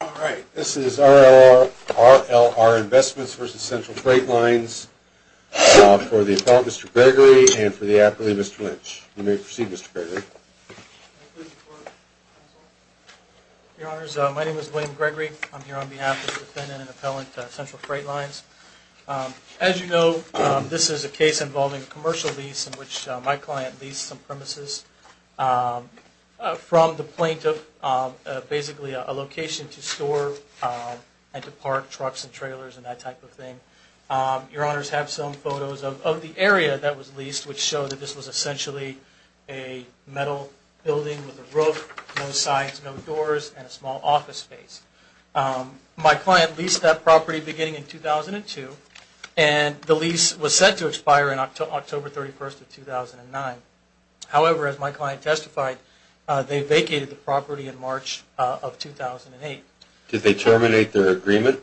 for the Appellant, Mr. Gregory, and for the Appellant, Mr. Lynch. You may proceed, Mr. Gregory. Your Honors, my name is William Gregory. I'm here on behalf of the Defendant and Appellant to Central Freight Lines. As you know, this is a case involving a commercial lease in which my client leased some premises from the plaintiff, basically a location to Central Freight Lines. A place to store and to park trucks and trailers and that type of thing. Your Honors have some photos of the area that was leased, which show that this was essentially a metal building with a roof, no sides, no doors, and a small office space. My client leased that property beginning in 2002, and the lease was set to expire on October 31, 2009. However, as my client testified, they vacated the property in March of 2008. Did they terminate their agreement?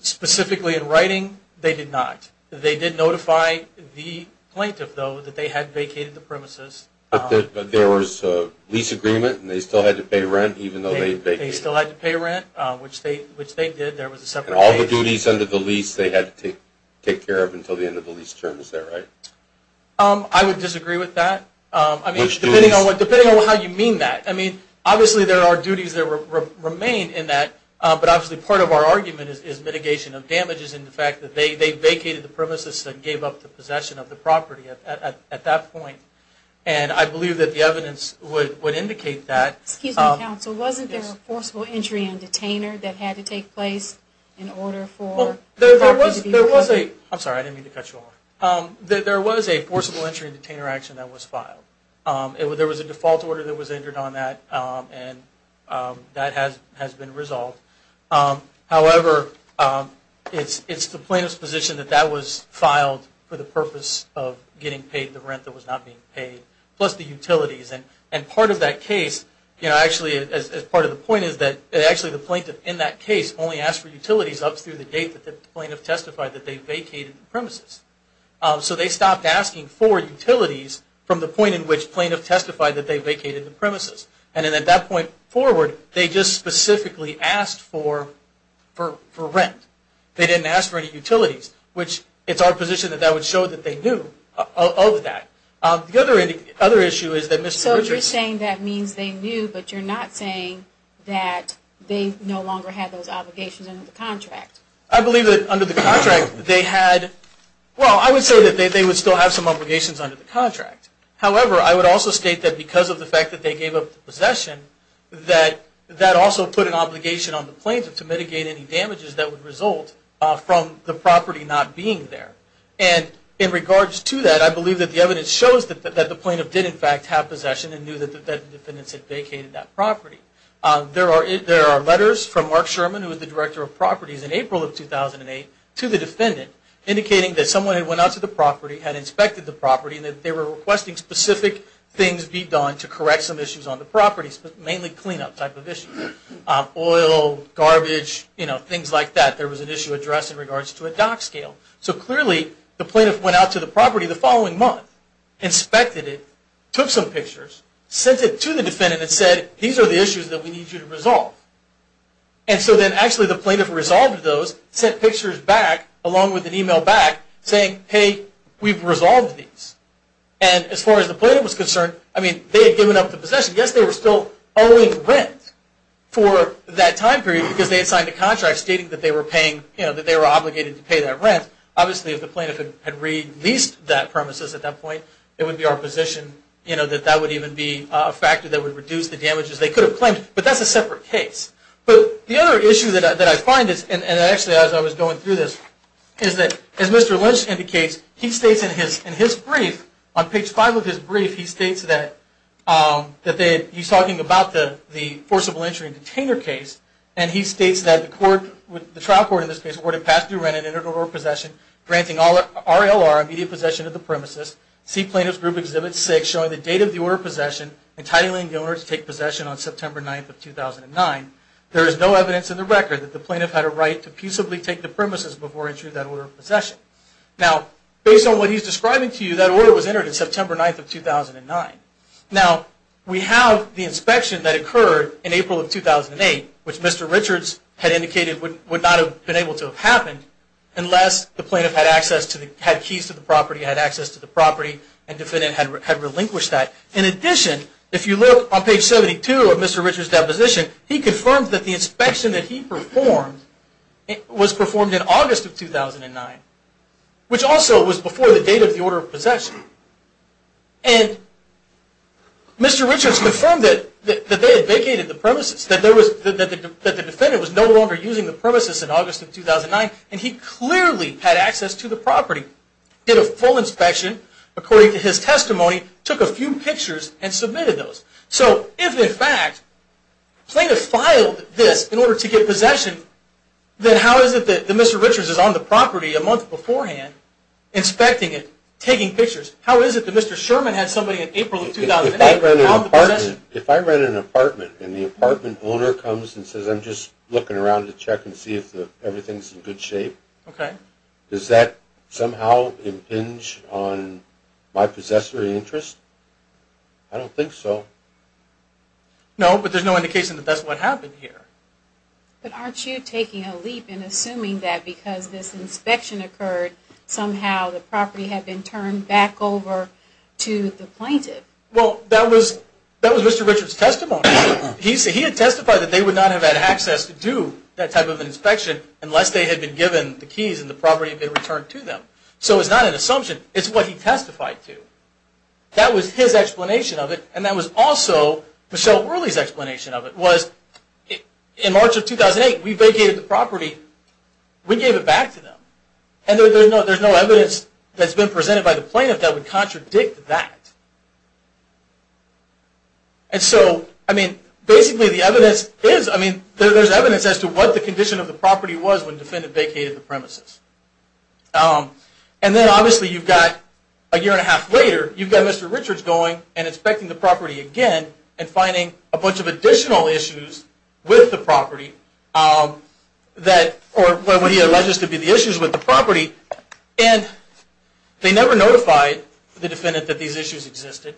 Specifically in writing, they did not. They did notify the plaintiff, though, that they had vacated the premises. But there was a lease agreement and they still had to pay rent, even though they vacated? They still had to pay rent, which they did. And all the duties under the lease they had to take care of until the end of the lease term, is that right? I would disagree with that, depending on how you mean that. Obviously there are duties that remain in that, but obviously part of our argument is mitigation of damages and the fact that they vacated the premises and gave up the possession of the property at that point. And I believe that the evidence would indicate that. Wasn't there a forcible entry and detainer that had to take place in order for the property to be recovered? I'm sorry, I didn't mean to cut you off. There was a forcible entry and detainer action that was filed. There was a default order that was entered on that, and that has been resolved. However, it's the plaintiff's position that that was filed for the purpose of getting paid the rent that was not being paid, plus the utilities. And part of the point is that the plaintiff in that case only asked for utilities up through the date that the plaintiff testified that they vacated the premises. So they stopped asking for utilities from the point in which plaintiff testified that they vacated the premises. And then at that point forward, they just specifically asked for rent. They didn't ask for any utilities, which it's our position that that would show that they knew of that. The other issue is that Mr. Richards... So you're saying that means they knew, but you're not saying that they no longer had those obligations under the contract. I believe that under the contract they had... possession, that that also put an obligation on the plaintiff to mitigate any damages that would result from the property not being there. And in regards to that, I believe that the evidence shows that the plaintiff did in fact have possession and knew that the defendants had vacated that property. There are letters from Mark Sherman, who is the Director of Properties, in April of 2008 to the defendant indicating that someone had went out to the property, had inspected the property, and that they were requesting specific things be done to correct some issues on the property, mainly cleanup type of issues. Oil, garbage, things like that, there was an issue addressed in regards to a dock scale. So clearly the plaintiff went out to the property the following month, inspected it, took some pictures, sent it to the defendant and said, these are the issues that we need you to resolve. And so then actually the plaintiff resolved those, sent pictures back along with an email back saying, hey, we've resolved these. And as far as the plaintiff was concerned, they had given up the possession. Yes, they were still owing rent for that time period because they had signed a contract stating that they were paying, that they were obligated to pay that rent. Obviously if the plaintiff had released that premises at that point, it would be our position that that would even be a factor that would reduce the damages they could have claimed, but that's a separate case. But the other issue that I find is, and actually as I was going through this, is that as Mr. Lynch indicates, he states in his brief, on page 5 of his brief, he states that he's talking about the forcible entry and container case, and he states that the trial court in this case awarded past due rent and internal damages to the premises. See Plaintiff's Group Exhibit 6 showing the date of the order of possession, entitling the owner to take possession on September 9th of 2009. There is no evidence in the record that the plaintiff had a right to peaceably take the premises before entering that order of possession. Now, based on what he's describing to you, that order was entered on September 9th of 2009. Now, we have the inspection that occurred in April of 2008, which Mr. Richards had indicated would not have been able to have happened unless the plaintiff had keys to the property, had access to the property, and the defendant had relinquished that. In addition, if you look on page 72 of Mr. Richards' deposition, he confirmed that the inspection that he performed was performed in August of 2009, which also was before the date of the order of possession. And Mr. Richards confirmed that they had vacated the premises, that the defendant was no longer using the premises in August of 2009, and he clearly had access to the property, did a full inspection according to his testimony, took a few pictures, and submitted those. So if, in fact, the plaintiff filed this in order to get possession, then how is it that Mr. Richards is on the property a month beforehand inspecting it, taking pictures? How is it that Mr. Sherman had somebody in April of 2008 without the possession? If I rent an apartment and the apartment owner comes and says, I'm just looking around to check and see if everything's in good shape, does that somehow impinge on my possessory interest? I don't think so. No, but there's no indication that that's what happened here. But aren't you taking a leap in assuming that because this inspection occurred, somehow the property had been turned back over to the plaintiff? Well, that was Mr. Richards' testimony. He had testified that they would not have had access to do that type of inspection unless they had been given the keys and the property had been returned to them. So it's not an assumption, it's what he testified to. That was his explanation of it, was in March of 2008, we vacated the property, we gave it back to them. And there's no evidence that's been presented by the plaintiff that would contradict that. And so, I mean, basically the evidence is, I mean, there's evidence as to what the condition of the property was when the defendant vacated the premises. And then obviously you've got a year and a half later, you've got Mr. Richards going and inspecting the property again and finding a bunch of additional issues with the property that, or what he alleges to be the issues with the property. And they never notified the defendant that these issues existed.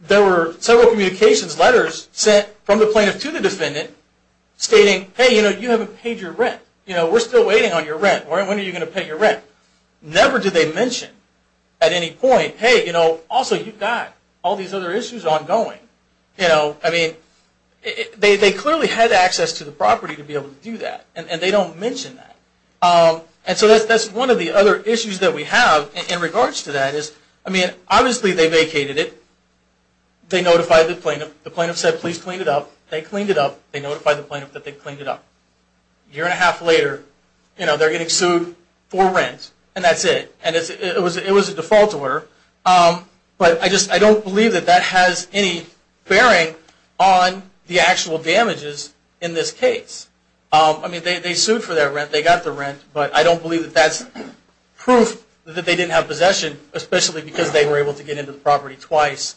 There were several communications letters sent from the plaintiff to the defendant stating, hey, you know, you haven't paid your rent. You know, we're still waiting on your rent. When are you going to pay your rent? Never did they mention at any point, hey, you know, also you've got all these other issues ongoing. I mean, they clearly had access to the property to be able to do that and they don't mention that. And so that's one of the other issues that we have in regards to that is, I mean, obviously they vacated it. They notified the plaintiff. The plaintiff said, please clean it up. They cleaned it up. They notified the plaintiff that they cleaned it up. A year and a half later, you know, they're getting sued for rent and that's it. And it was a default order. But I just, I don't believe that that has any bearing on the actual damages in this case. I mean, they sued for that rent. They got the rent. But I don't believe that that's proof that they didn't have possession, especially because they were able to get into the property twice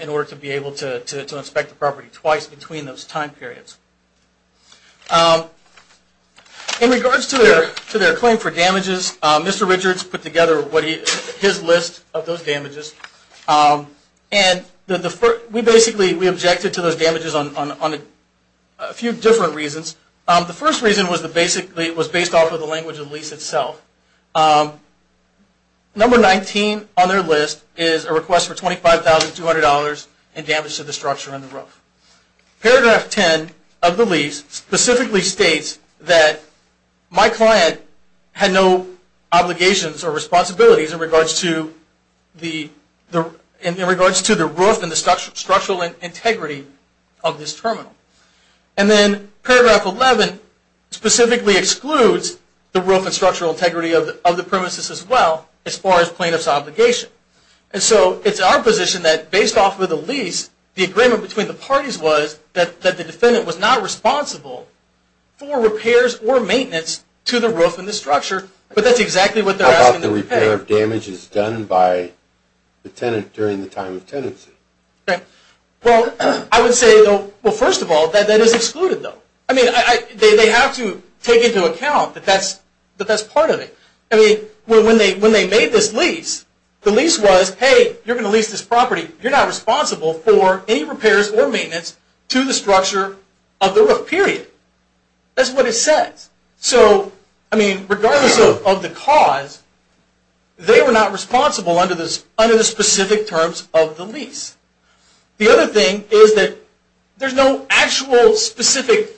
in order to be able to inspect the property twice between those time periods. In regards to their claim for damages, Mr. Richards put together his list of those damages. And we basically, we objected to those damages on a few different reasons. The first reason was based off of the language of the lease itself. Number 19 on their list is a request for $25,200 in damage to the structure and the roof. Paragraph 10 of the lease specifically states that my client had no obligations or responsibilities in regards to the roof and the structural integrity of this terminal. And then paragraph 11 specifically excludes the roof and structural integrity of the premises as well as far as plaintiff's obligation. And so it's our position that based off of the lease, the agreement between the parties was that the defendant was not responsible for repairs or maintenance to the roof and the structure. But that's exactly what they're asking to repay. The repair of damage is done by the tenant during the time of tenancy. Well, I would say, first of all, that that is excluded though. They have to take into account that that's part of it. When they made this lease, the lease was, hey, you're going to lease this property, you're not responsible for any repairs or maintenance to the structure of the roof, period. That's what it says. So, I mean, regardless of the cause, they were not responsible under the specific terms of the lease. The other thing is that there's no actual specific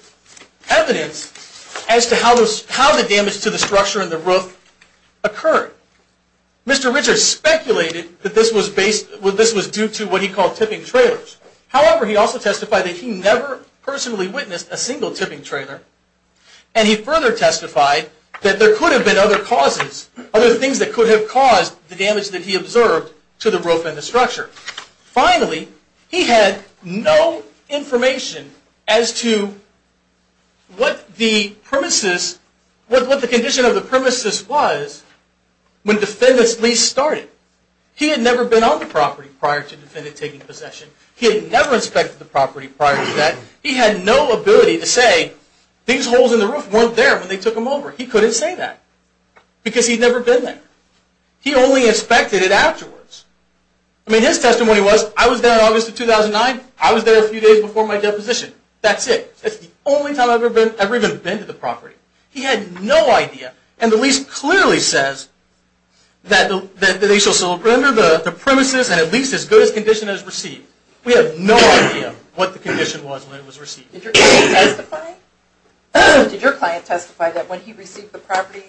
evidence as to how the damage to the structure and the roof occurred. Mr. Richards speculated that this was due to what he personally witnessed, a single tipping trailer, and he further testified that there could have been other causes, other things that could have caused the damage that he observed to the roof and the structure. Finally, he had no information as to what the premises, what the condition of the premises was when the defendant's lease started. He had never been on the property prior to the defendant taking possession. He had never inspected the property prior to that. He had no ability to say, these holes in the roof weren't there when they took them over. He couldn't say that because he'd never been there. He only inspected it afterwards. I mean, his testimony was, I was there in August of 2009. I was there a few days before my deposition. That's it. That's the only time I've ever even been to the property. He had no idea. And the lease clearly says that they shall surrender the premises and at least as good a condition as received. We have no idea what the condition was when it was received. Did your client testify that when he received the property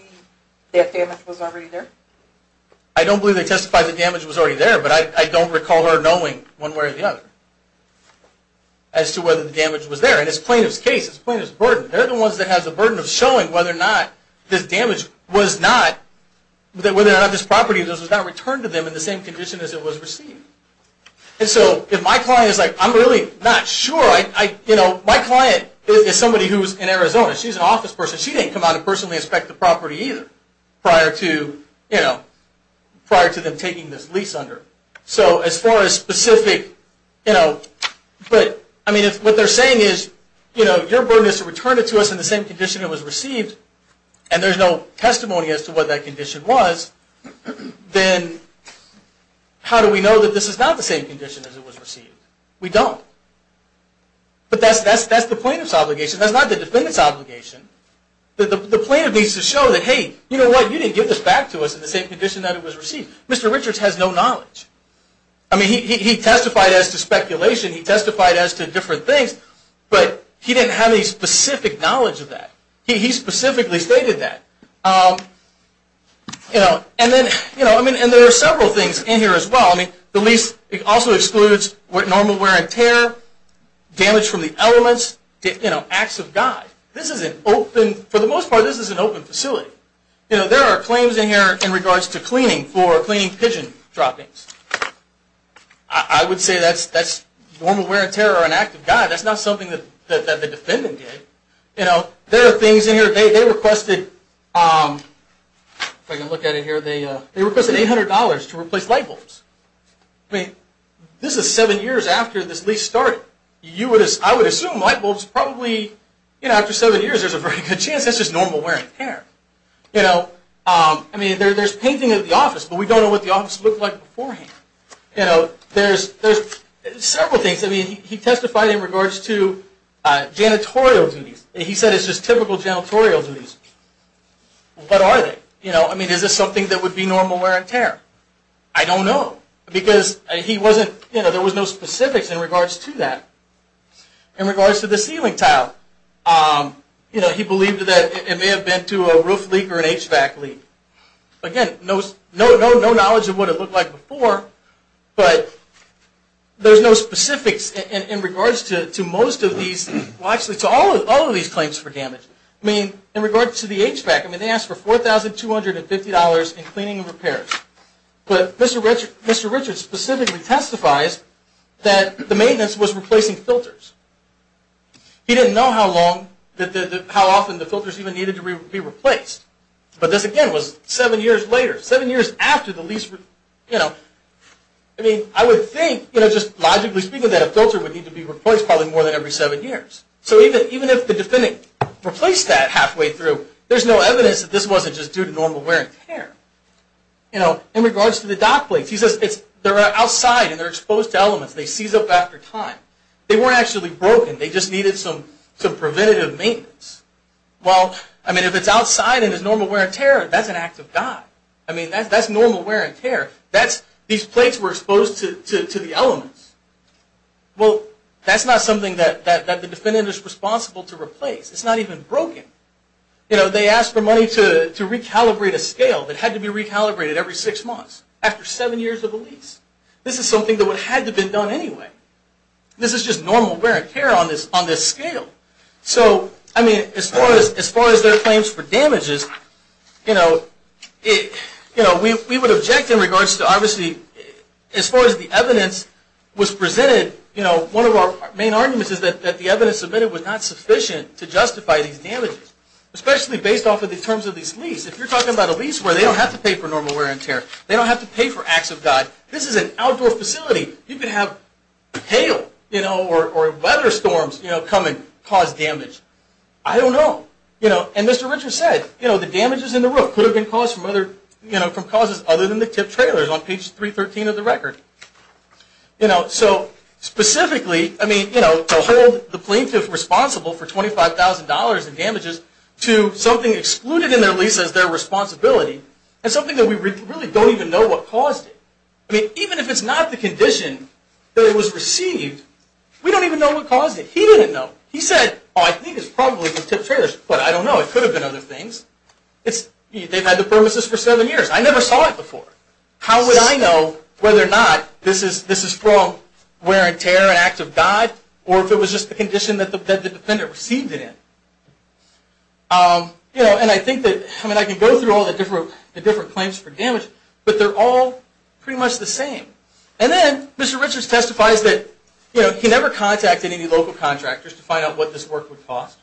that damage was already there? I don't believe they testified that damage was already there, but I don't recall her knowing one way or the other as to whether the damage was there. And it's plaintiff's case. It's plaintiff's burden. They're the ones that have the burden of showing whether or not this damage was not, whether or not this property was returned to them in the same condition as it was received. And so if my client is like, I'm really not sure. My client is somebody who's in Arizona. She's an office person. She didn't come out and personally inspect the property either prior to them taking this lease under. So as far as specific, but what they're saying is your burden is to return it to us in the same condition it was received and there's no testimony as to what that condition was, then how do we know that this is not the same condition as it was received? We don't. But that's the plaintiff's obligation. That's not the defendant's obligation. The plaintiff needs to show that, hey, you know what, you didn't give this back to us in the same condition that it was received. Mr. Richards has no knowledge. He testified as to speculation. He testified as to different things. But he didn't have any specific knowledge of that. He specifically stated that. And there are several things in here as well. The lease also excludes normal wear and tear, damage from the elements, acts of God. For the most part, this is an open facility. There are claims in here in regards to cleaning for cleaning pigeon droppings. I would say that's normal wear and tear or an act of God. That's not something that the defendant did. There are things in here, they requested $800 to replace light bulbs. This is seven years after this lease started. I would assume light bulbs probably, after seven years, there's a very good chance it's just normal wear and tear. There's painting of the office, but we don't know what the office looked like beforehand. There's several things. He testified in regards to janitorial duties. He said it's just typical janitorial duties. What are they? Is this something that would be normal wear and tear? I don't know, because there was no specifics in regards to that. In regards to the ceiling tile, he believed that it may have been to a roof leak or an HVAC leak. Again, no knowledge of what it looked like before, but there's no specifics in regards to all of these claims for damage. In regards to the HVAC, they asked for $4,250 in cleaning and repairs. Mr. Richards specifically testifies that the maintenance was replacing filters. He didn't know how often the filters even needed to be replaced. But this again was seven years later, seven years after the lease. I would think, just logically speaking, that a filter would need to be replaced probably more than every seven years. So even if the defendant replaced that halfway through, there's no evidence that this wasn't just due to normal wear and tear. In regards to the dock plates, he says they're outside and they're exposed to elements. They seize up after time. They weren't actually broken. They just needed some preventative maintenance. Well, I mean, if it's outside and it's normal wear and tear, that's an act of God. I mean, that's normal wear and tear. These plates were exposed to the elements. Well, that's not something that the defendant is responsible to replace. It's not even broken. They asked for money to recalibrate a scale that had to be recalibrated every six months after seven years of a lease. This is something that had to have been done anyway. This is just normal wear and tear on this scale. As far as their claims for damages, we would object in regards to, obviously, as far as the evidence was presented, one of our main arguments is that the evidence submitted was not sufficient to justify these damages, especially based off of the terms of these leases. If you're talking about a lease where they don't have to pay for normal hail or weather storms come and cause damage, I don't know. And Mr. Richard said the damages in the roof could have been caused from other causes other than the tip trailers on page 313 of the record. Specifically, to hold the plaintiff responsible for $25,000 in damages to something excluded in their lease as their responsibility is something that we received, we don't even know what caused it. He didn't know. He said, I think it's probably the tip trailers. But I don't know. It could have been other things. They've had the premises for seven years. I never saw it before. How would I know whether or not this is from wear and tear, an act of God, or if it was just the condition that the defendant received it in? I can go through all the different claims for that. He never contacted any local contractors to find out what this work would cost.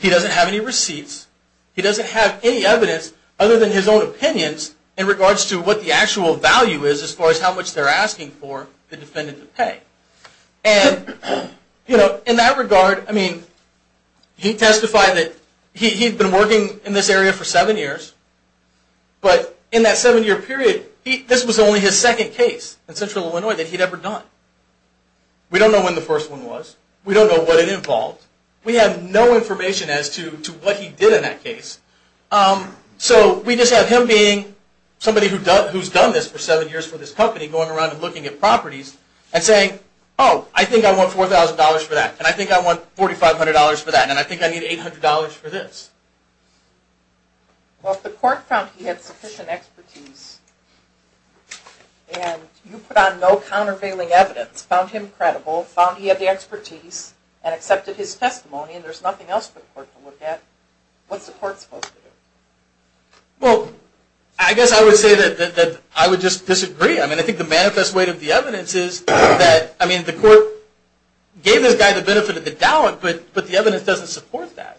He doesn't have any receipts. He doesn't have any evidence other than his own opinions in regards to what the actual value is as far as how much they're asking for the defendant to pay. In that regard, he testified that he'd been working in this area for seven years, but in that seven-year period, this was only his second case in Central Illinois that he'd ever done. We don't know when the first one was. We don't know what it involved. We have no information as to what he did in that case. So we just have him being somebody who's done this for seven years for this company, going around and looking at properties and saying, oh, I think I want $4,000 for that, and I think I want $4,500 for that, and I think I need $800 for this. Well, if the court found he had sufficient expertise and you put on no countervailing evidence, found him credible, found he had the expertise, and accepted his testimony, and there's nothing else for the court to look at, what's the court supposed to do? I guess I would say that I would just disagree. I think the manifest way of the evidence is that the court gave this guy the benefit of the doubt, but the evidence doesn't support that.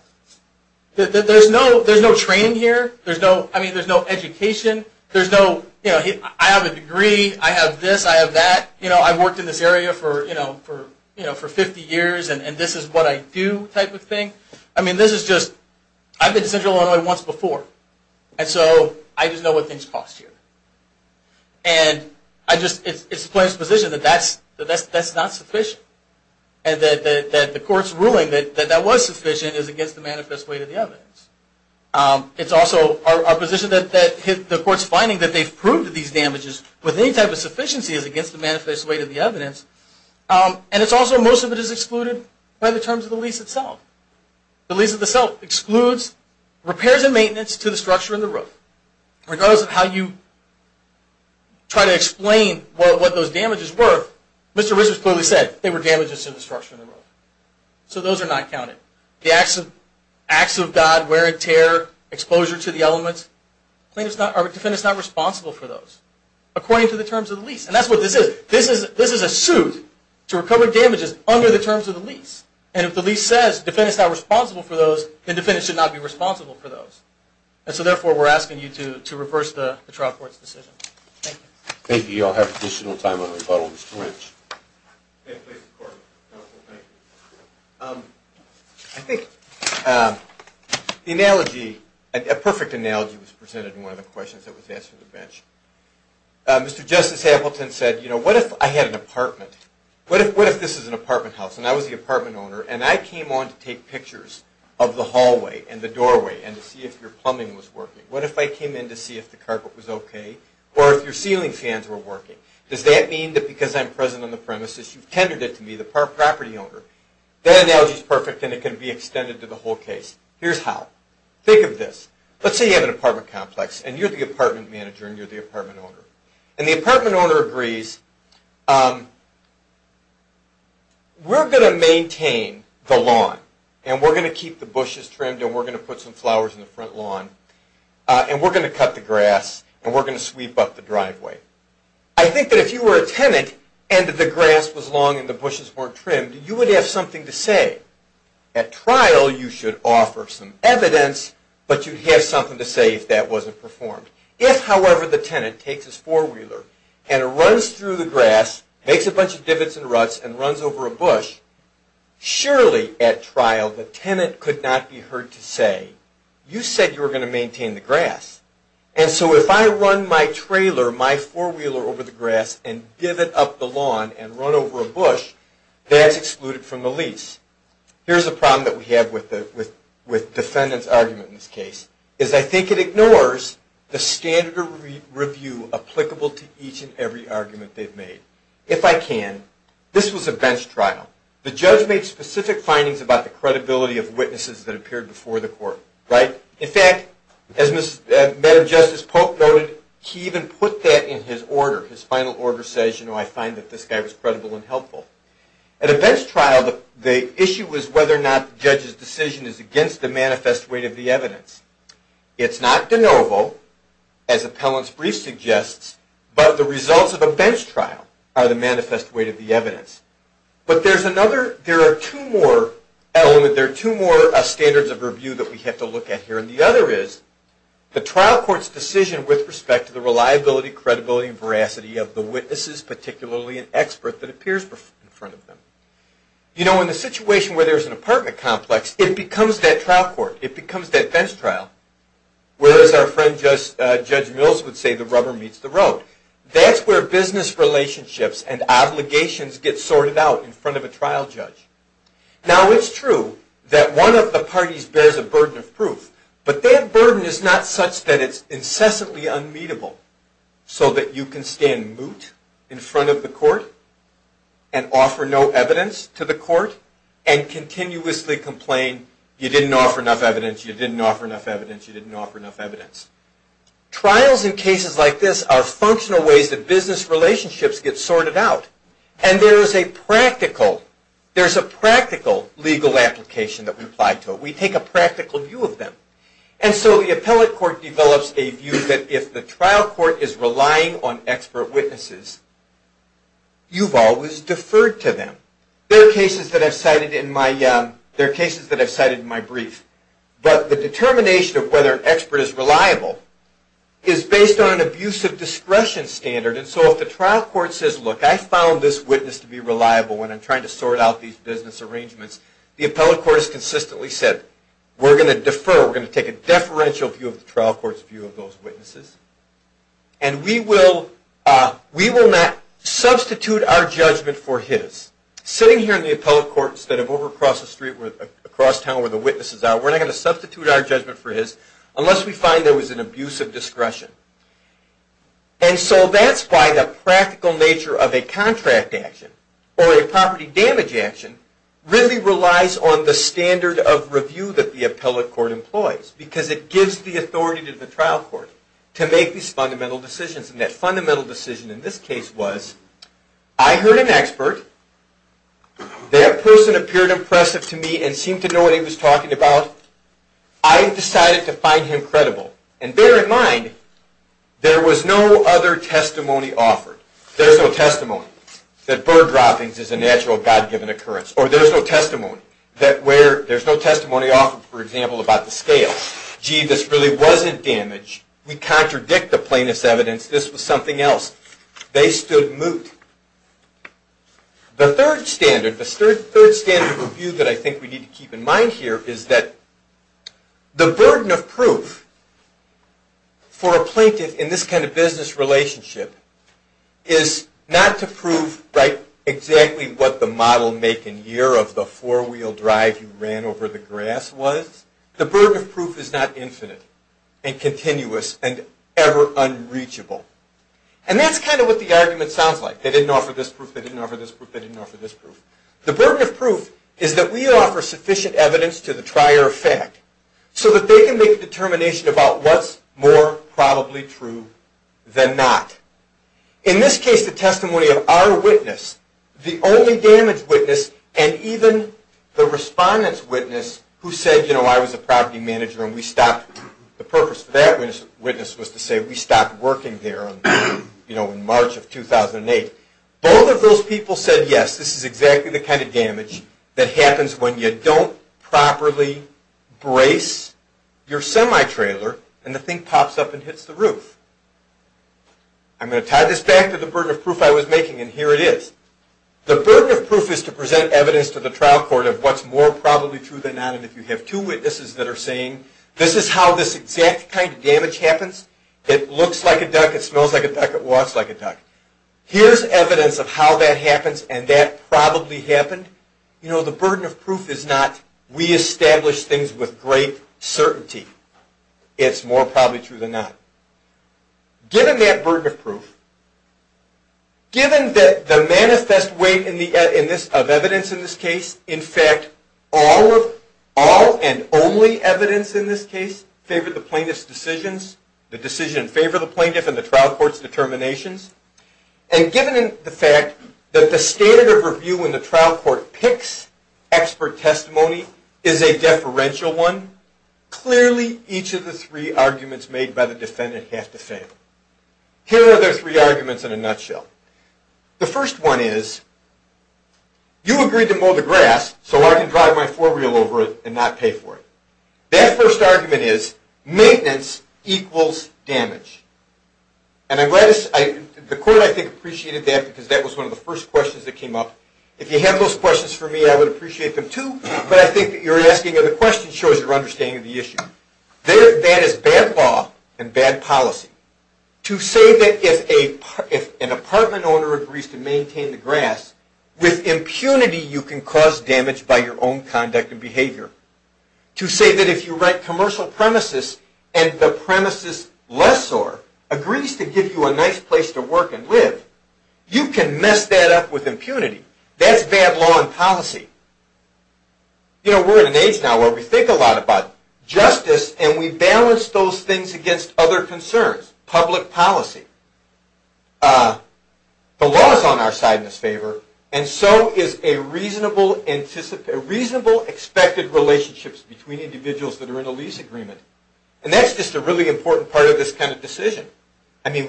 There's no train here. There's no education. I have a degree. I have this. I have that. I worked in this area for 50 years, and this is what I do type of thing. I've been to Central Illinois once before, and so I just know what things cost here. It's the plaintiff's position that that's not sufficient, and that the court's ruling that that was sufficient is against the manifest way of the evidence. It's also our position that the court's finding that they've proved these damages with any type of sufficiency is against the manifest way of the evidence, and it's also most of it is excluded by the terms of the lease itself. The lease itself excludes repairs and maintenance to the structure and the roof. Regardless of how you try to explain what those damages were, Mr. Richards clearly said they were damages to the structure and the roof, so those are not counted. The acts of God, wear and tear, exposure to the elements, the defendant's not responsible for those according to the terms of the lease, and that's what this is. This is a suit to recover damages under the terms of the lease, and if the lease says the defendant's not responsible for those, then the defendant should not be responsible for those, and so therefore we're asking you to reverse the trial court's decision. Thank you. Thank you. I'll have additional time on rebuttal, Mr. Lynch. I think the analogy, a perfect analogy was presented in one of the questions that was asked from the bench. Mr. Justice Appleton said, you know, what if I had an apartment? What if this is an apartment house, and I was the apartment owner, and I came on to take pictures of the hallway and the doorway and to see if your plumbing was working? What if I came in to see if the carpet was okay, or if your ceiling fans were working? Does that mean that because I'm present on the premises, you've tendered it to me, the property owner? That analogy is perfect, and it can be extended to the whole case. Here's how. Think of this. Let's say you have an apartment complex, and you're the apartment manager, and you're the apartment owner, and the apartment owner agrees, we're going to maintain the lawn, and we're going to keep the bushes trimmed, and we're going to put some flowers in the front lawn, and we're going to cut the grass, and we're going to sweep up the driveway. I think that if you were a tenant, and the grass was long and the bushes weren't trimmed, you would have something to say. At trial, you should offer some evidence, but you'd have something to say if that wasn't performed. If, however, the tenant takes his four-wheeler and runs through the grass, makes a bunch of divots and ruts, and runs over a bush, surely at trial, the tenant could not be heard to say, you said you were going to maintain the grass, and so if I run my trailer, my I run over a bush, that's excluded from the lease. Here's a problem that we have with defendant's argument in this case, is I think it ignores the standard review applicable to each and every argument they've made. If I can, this was a bench trial. The judge made specific findings about the credibility of witnesses that appeared before the court, right? In fact, as Madam Justice Polk noted, he even put that in his order. His final order says, you know, I find that this guy was credible and helpful. At a bench trial, the issue is whether or not the judge's decision is against the manifest weight of the evidence. It's not de novo, as appellant's brief suggests, but the results of a bench trial are the manifest weight of the evidence. But there are two more standards of review that we have to look at here, and the other is the trial court's decision with respect to the reliability, credibility, and veracity of the witnesses, particularly an expert that appears in front of them. You know, in the situation where there's an apartment complex, it becomes that trial court. It becomes that bench trial, whereas our friend Judge Mills would say the rubber meets the road. That's where business relationships and obligations get sorted out. And that's where the parties bears a burden of proof. But that burden is not such that it's incessantly unmeetable, so that you can stand moot in front of the court and offer no evidence to the court and continuously complain, you didn't offer enough evidence, you didn't offer enough evidence, you didn't offer enough evidence. Trials in cases like this are functional ways that business relationships get sorted out. And there's a practical legal application that we apply to it. We take a practical view of them. And so the appellate court develops a view that if the trial court is relying on expert witnesses, you've always deferred to them. There are cases that I've cited in my brief, but the determination of whether an expert is reliable is based on an abusive discretion standard. And so if the trial court says, look, I found this witness to be reliable when I'm trying to sort out these business arrangements, the appellate court has consistently said, we're going to defer, we're going to take a deferential view of the trial court's view of those witnesses. And we will not substitute our judgment for his. Sitting here in the appellate court instead of over across the street, there's an abuse of discretion. And so that's why the practical nature of a contract action or a property damage action really relies on the standard of review that the appellate court employs. Because it gives the authority to the trial court to make these fundamental decisions. And that fundamental decision in this case was, I heard an expert, that person appeared impressive to me and seemed to know what he was talking about. I decided to find him credible. And bear in mind, there was no other testimony offered. There's no testimony that bird droppings is a natural, God-given occurrence. Or there's no testimony offered, for example, about the scale. Gee, this really wasn't damage. We contradict the plaintiff's evidence. This was something else. They stood moot. The third standard review that I think we need to keep in mind here is that the burden of proof for a plaintiff in this kind of business relationship is not to prove exactly what the model make and year of the four-wheel drive you ran over the grass was. The burden of proof is not infinite and continuous and ever unreachable. And that's kind of what the argument sounds like. They didn't offer this proof. They didn't offer this proof. They didn't offer this proof. The burden of proof is that we offer sufficient evidence to the trier of fact so that they can make a determination about what's more probably true than not. In this case, the testimony of our witness, the only damage witness, and even the respondent's witness who said, you know, I was a property manager and we stopped. The purpose of that witness was to say we stopped working there in March of 2008. Both of those people said yes, this is exactly the kind of damage that happens when you don't properly brace your semi-trailer and the thing pops up and hits the roof. I'm going to tie this back to the burden of proof I was making and here it is. The burden of proof is to present evidence to the trial court of what's more probably true than not. And if you have two witnesses that are saying, this is how this exact kind of damage happens. It looks like a duck. It smells like a duck. It walks like a duck. Here's evidence of how that happens and that probably happened. You know, the burden of proof is not we establish things with great certainty. It's more probably true than not. Given that burden of proof, given that the manifest weight of evidence in this case, in fact, all and only evidence in this case favored the plaintiff's decisions, the decision in favor of the plaintiff and the trial court's determinations, and given the fact that the standard of review when the trial court picks expert testimony is a deferential one, clearly each of the three arguments made by the defendant have to fail. Here are their three arguments in a nutshell. The first one is, you agreed to mow the grass so I can drive my four-wheel over it and not pay for it. That first argument is, maintenance equals damage. And I'm glad, the court I think appreciated that because that was one of the first questions that came up. If you had those questions for me, I would appreciate them too, but I think that you're asking and the question shows your understanding of the issue. That is bad law and bad policy. To say that if an apartment owner agrees to maintain the grass, with impunity you can cause damage by your own conduct and behavior. To say that if you rent commercial premises and the premises lessor agrees to give you a nice place to work and live, you can mess that up with impunity. That's bad law and policy. We're in an age now where we think a lot about justice and we balance those things against other concerns, public policy. The law is on our side in this favor and so is a reasonable expected relationships between individuals that are in a lease agreement. And that's just a really important part of this kind of decision. I mean,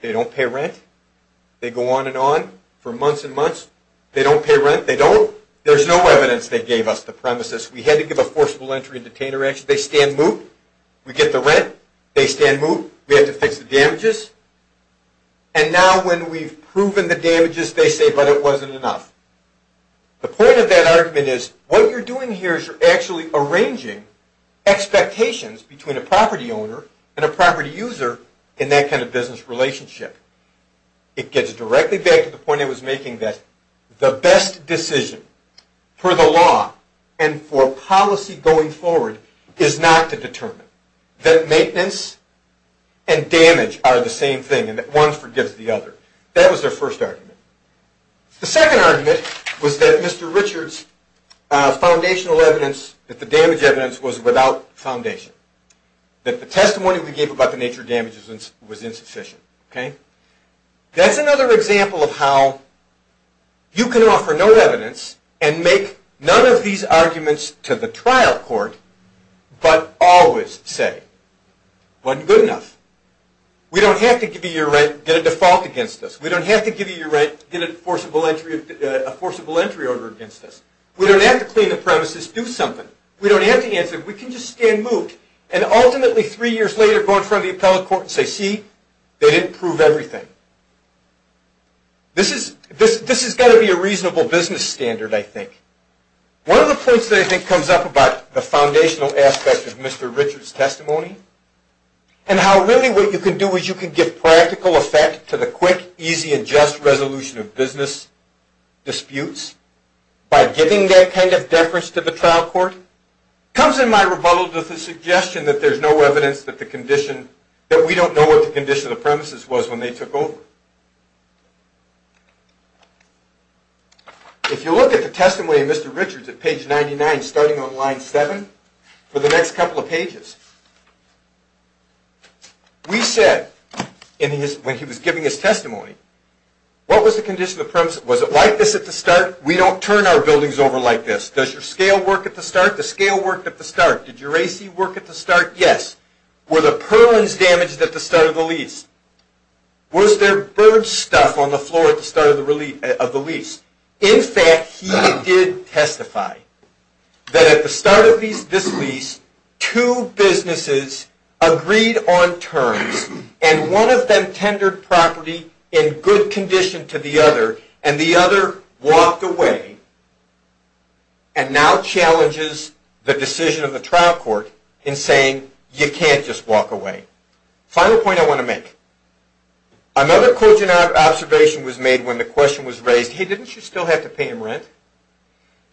they don't pay rent. They go on and on for months and months. They don't pay rent. They don't. There's no evidence they gave us the premises. We had to give a forcible entry and detainer action. They stand moot. We get the rent. They stand moot. We have to fix the damages. And now when we've proven the here is you're actually arranging expectations between a property owner and a property user in that kind of business relationship. It gets directly back to the point I was making that the best decision for the law and for policy going forward is not to determine. That maintenance and damage are the same thing and that one forgives the other. That was their first argument. The second argument was that Mr. Richards' foundational evidence, that the damage evidence was without foundation. That the testimony we gave about the nature of damages was insufficient. That's another example of how you can offer no evidence and make none of these arguments to the trial court but always say it wasn't good enough. We don't have to give you your right to get a default against us. We don't have to give you your right to get a forcible entry order against us. We don't have to clean the premises, do something. We don't have to answer. We can just stand moot and ultimately three years later go in front of the appellate court and say see they didn't prove everything. This has got to be a reasonable business standard I think. One of the points that I think comes up about the foundational aspect of Mr. Richards' testimony and how really what you can do is you can give practical effect to the quick, easy and just resolution of business disputes by giving that kind of deference to the trial court comes in my rebuttal to the suggestion that there's no evidence that we don't know what the condition of the premises was when they took over. If you look at the testimony of Mr. Richards at page 99 starting on line 7 for the next couple of pages, we said when he was giving his testimony, what was the condition of the premises? Was it like this at the start? We don't turn our buildings over like this. Does your scale work at the start? The scale worked at the start. Did your AC work at the start? Yes. Were the purlins damaged at the start of the lease? Was there bird stuff on the floor at the start of the lease? In fact, he did testify that at the start of this lease two businesses agreed on terms and one of them tendered property in good condition to the other and the other walked away and now challenges the decision of the trial court in saying you can't just walk away. Final point I want to make. Another quote you might have observation was made when the question was raised, hey, didn't you still have to pay him rent?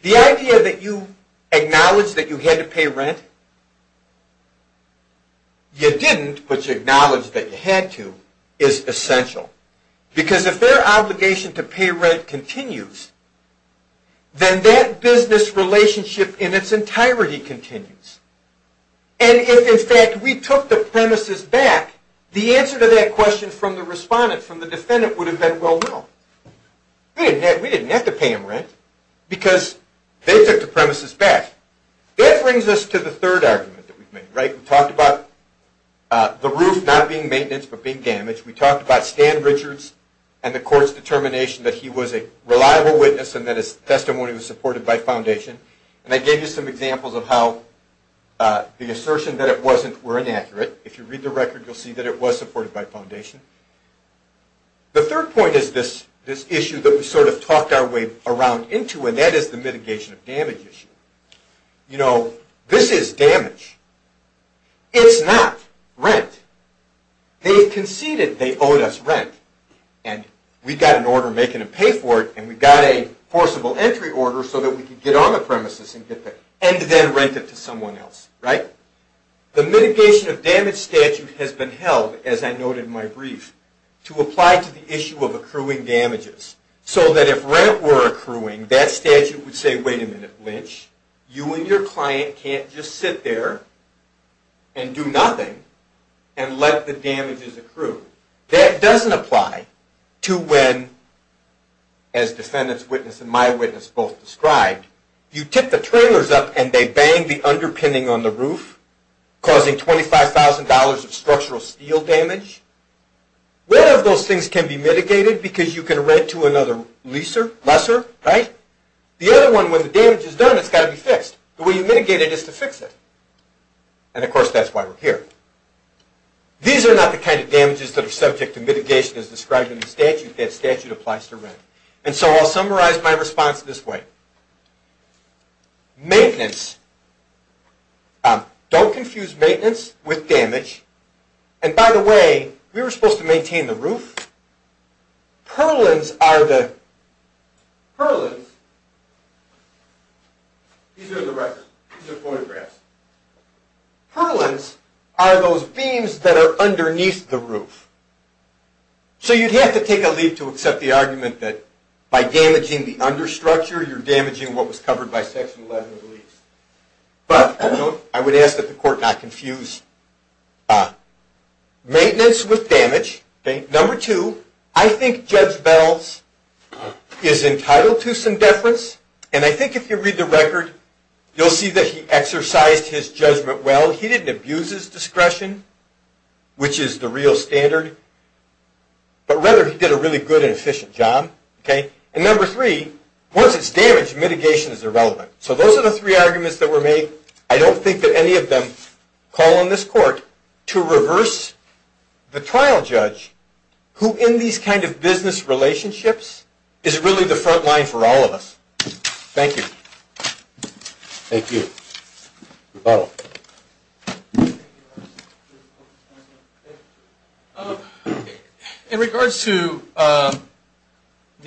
The idea that you acknowledge that you had to pay rent, you didn't, but you acknowledged that you had to, is essential. Because if their obligation to pay rent continues, then that business relationship in its entirety continues. And if in fact we took the premises back, the answer to that question from the respondent, from the defendant, would have been well, no. We didn't have to pay him rent because they took the premises back. That brings us to the third argument that we've made. We talked about the roof not being maintenance but being damaged. We talked about Stan Richards and the court's determination that he was a reliable witness and that his testimony was supported by foundation. And I gave you some examples of how the assertion that it wasn't were inaccurate. If you read the record, you'll see that it was supported by foundation. The third point is this issue that we sort of talked our way around into and that is the mitigation of damage issue. You know, this is damage. It's not rent. They conceded they owed us rent. And we got an order making them pay for it and we got a forcible entry order so that we could get on the premises and then rent it to someone else, right? The mitigation of damage statute has been held, as I noted in my brief, to apply to the issue of accruing damages so that if rent were accruing, that statute would say, wait a minute, Lynch, you and your client can't just sit there and do nothing and let the damages accrue. That doesn't apply to when, as defendant's witness and my witness both described, you tip the trailers up and they bang the underpinning on the roof causing $25,000 of structural steel damage. One of those things can be mitigated because you can rent to another leaser, lesser, right? The other one, when the damage is done, it's got to be fixed. The way you mitigate it is to fix it. And of course, that's why we're here. These are not the kind of damages that are subject to mitigation as described in the statute. That statute applies to rent. And so I'll summarize my response this way. Maintenance. Don't confuse maintenance with damage. And by the way, we were supposed to maintain the roof. Purlins are the... These are photographs. Purlins are those beams that are underneath the roof. So you'd have to take a leap to accept the argument that by damaging the understructure, you're damaging what was covered by Section 11 of the lease. But I would ask that the court not confuse maintenance with damage. Number two, I think Judge Bell's is entitled to some deference. And I think if you read the record, you'll see that he exercised his judgment well. He didn't abuse his discretion, which is the real standard, but rather he did a really good and efficient job. And number three, once it's damaged, mitigation is irrelevant. So those are the three arguments that were made. I don't think that any of them call on this court to reverse the trial judge who in these kind of business relationships is really the front line for all of us. Thank you. In regards to the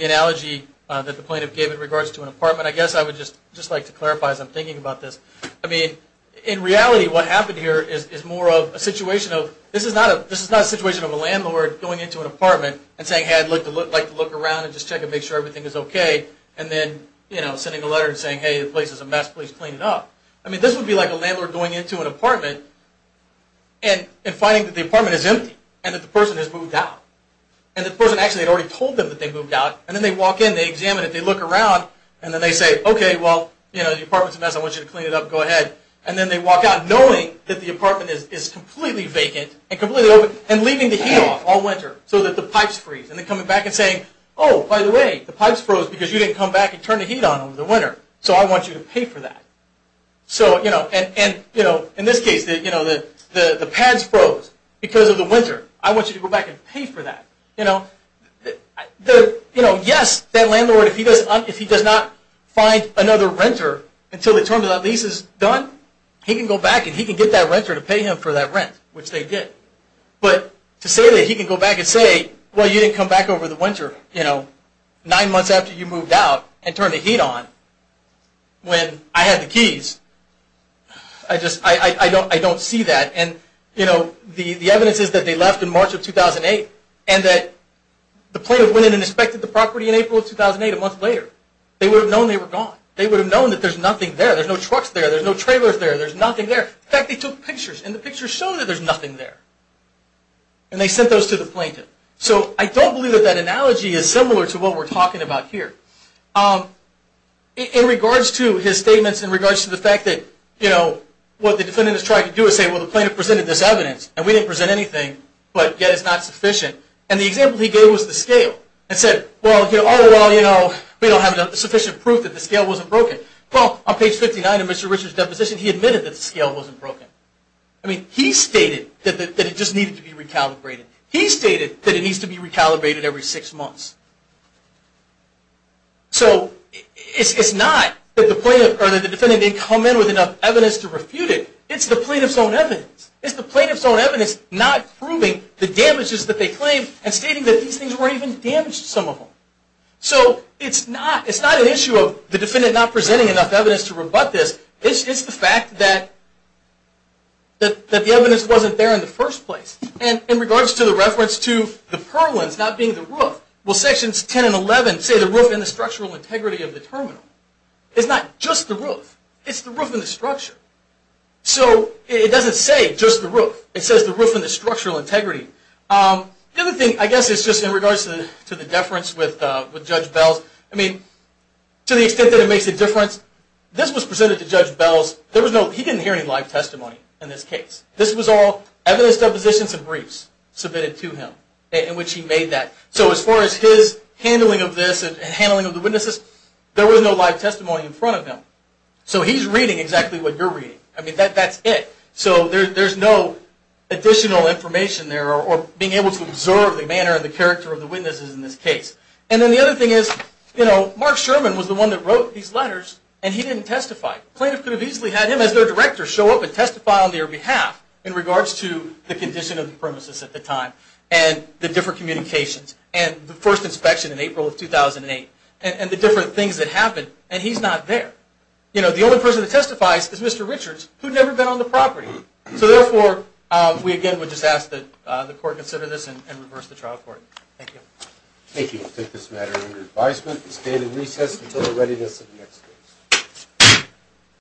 analogy that the plaintiff gave in regards to an apartment, I guess I would just like to clarify as I'm thinking about this. I mean, in reality, what happened here is more of a situation of... This is not a situation of a landlord going into an apartment and saying, hey, I'd like to look around and just check and make sure everything is okay. And then sending a letter and saying, hey, the place is a mess. Please clean it up. I mean, this would be like a landlord going into an apartment and finding that the apartment is empty and that the person has moved out. And the person actually had already told them that they moved out. And then they walk in, they examine it, they look around, and then they say, okay, well, the apartment is a mess. I want you to clean it up. Go ahead. And then they walk out knowing that the apartment is completely vacant and completely open and leaving the heat off all winter so that the pipes freeze. And then coming back and saying, oh, by the way, the pipes froze because you didn't come back and turn the heat on over the winter. So I want you to pay for that. So in this case, the pads froze because of the winter. I want you to go back and pay for that. Yes, that landlord, if he does not find another renter until the term of that lease is done, he can go back and he can get that renter to pay him for that rent, which they did. But to say that he can go back and say, well, you didn't come back over the winter nine months after you moved out and turned the heat on when I had the keys, I don't see that. The evidence is that they left in March of 2008 and that the plaintiff went in and inspected the property in April of 2008, a month later. They would have known they were gone. They would have known that there's nothing there. There's no trucks there. There's no trailers there. There's nothing there. In fact, they took pictures. And the pictures showed that there's nothing there. And they sent those to the plaintiff. So I don't believe that that analogy is similar to what we're talking about here. In regards to his statements, in regards to the fact that what the defendant is trying to do is say, well, the plaintiff presented this evidence, and we didn't present anything, but yet it's not sufficient. And the example he gave was the scale and said, well, all in all, we don't have sufficient proof that the scale wasn't broken. Well, on page 59 of Mr. Richard's deposition, he admitted that the scale wasn't broken. I mean, he stated that it just needed to be recalibrated. He stated that it needs to be recalibrated every six months. So it's not that the defendant didn't come in with enough evidence to refute it. It's the plaintiff's own evidence. It's the plaintiff's own evidence not proving the damages that they claimed and stating that these things weren't even damaged, some of them. So it's not an issue of the defendant not presenting enough evidence to rebut this. It's the fact that the evidence wasn't there in the first place. And in regards to the reference to the purlins not being the roof, well, sections 10 and 11 say the roof and the structural integrity of the terminal. It's not just the roof. It's the roof and the structure. So it doesn't say just the roof. It says the roof and the structural integrity. The other thing, I guess, is just in regards to the deference with Judge Belz. I mean, to the extent that it makes a difference, this was presented to Judge Belz. He didn't hear any live testimony in this case. This was all evidence depositions and briefs submitted to him in which he made that. So as far as his handling of this and handling of the witnesses, there was no live testimony in front of him. So he's reading exactly what you're reading. I mean, that's it. So there's no additional information there or being able to observe the manner and the character of the witnesses in this case. And then the other thing is, you know, Mark Sherman was the one that wrote these letters and he didn't testify. The plaintiff could have easily had him as their director show up and testify on their behalf in regards to the condition of the premises at the time and the different communications and the first inspection in April of 2008 and the different things that happened, and he's not there. You know, the only person that testifies is Mr. Richards, who'd never been on the property. So therefore, we again would just ask that the court consider this and reverse the trial court. Thank you. Thank you. I take this matter under advisement and stand in recess until the readiness of the next case.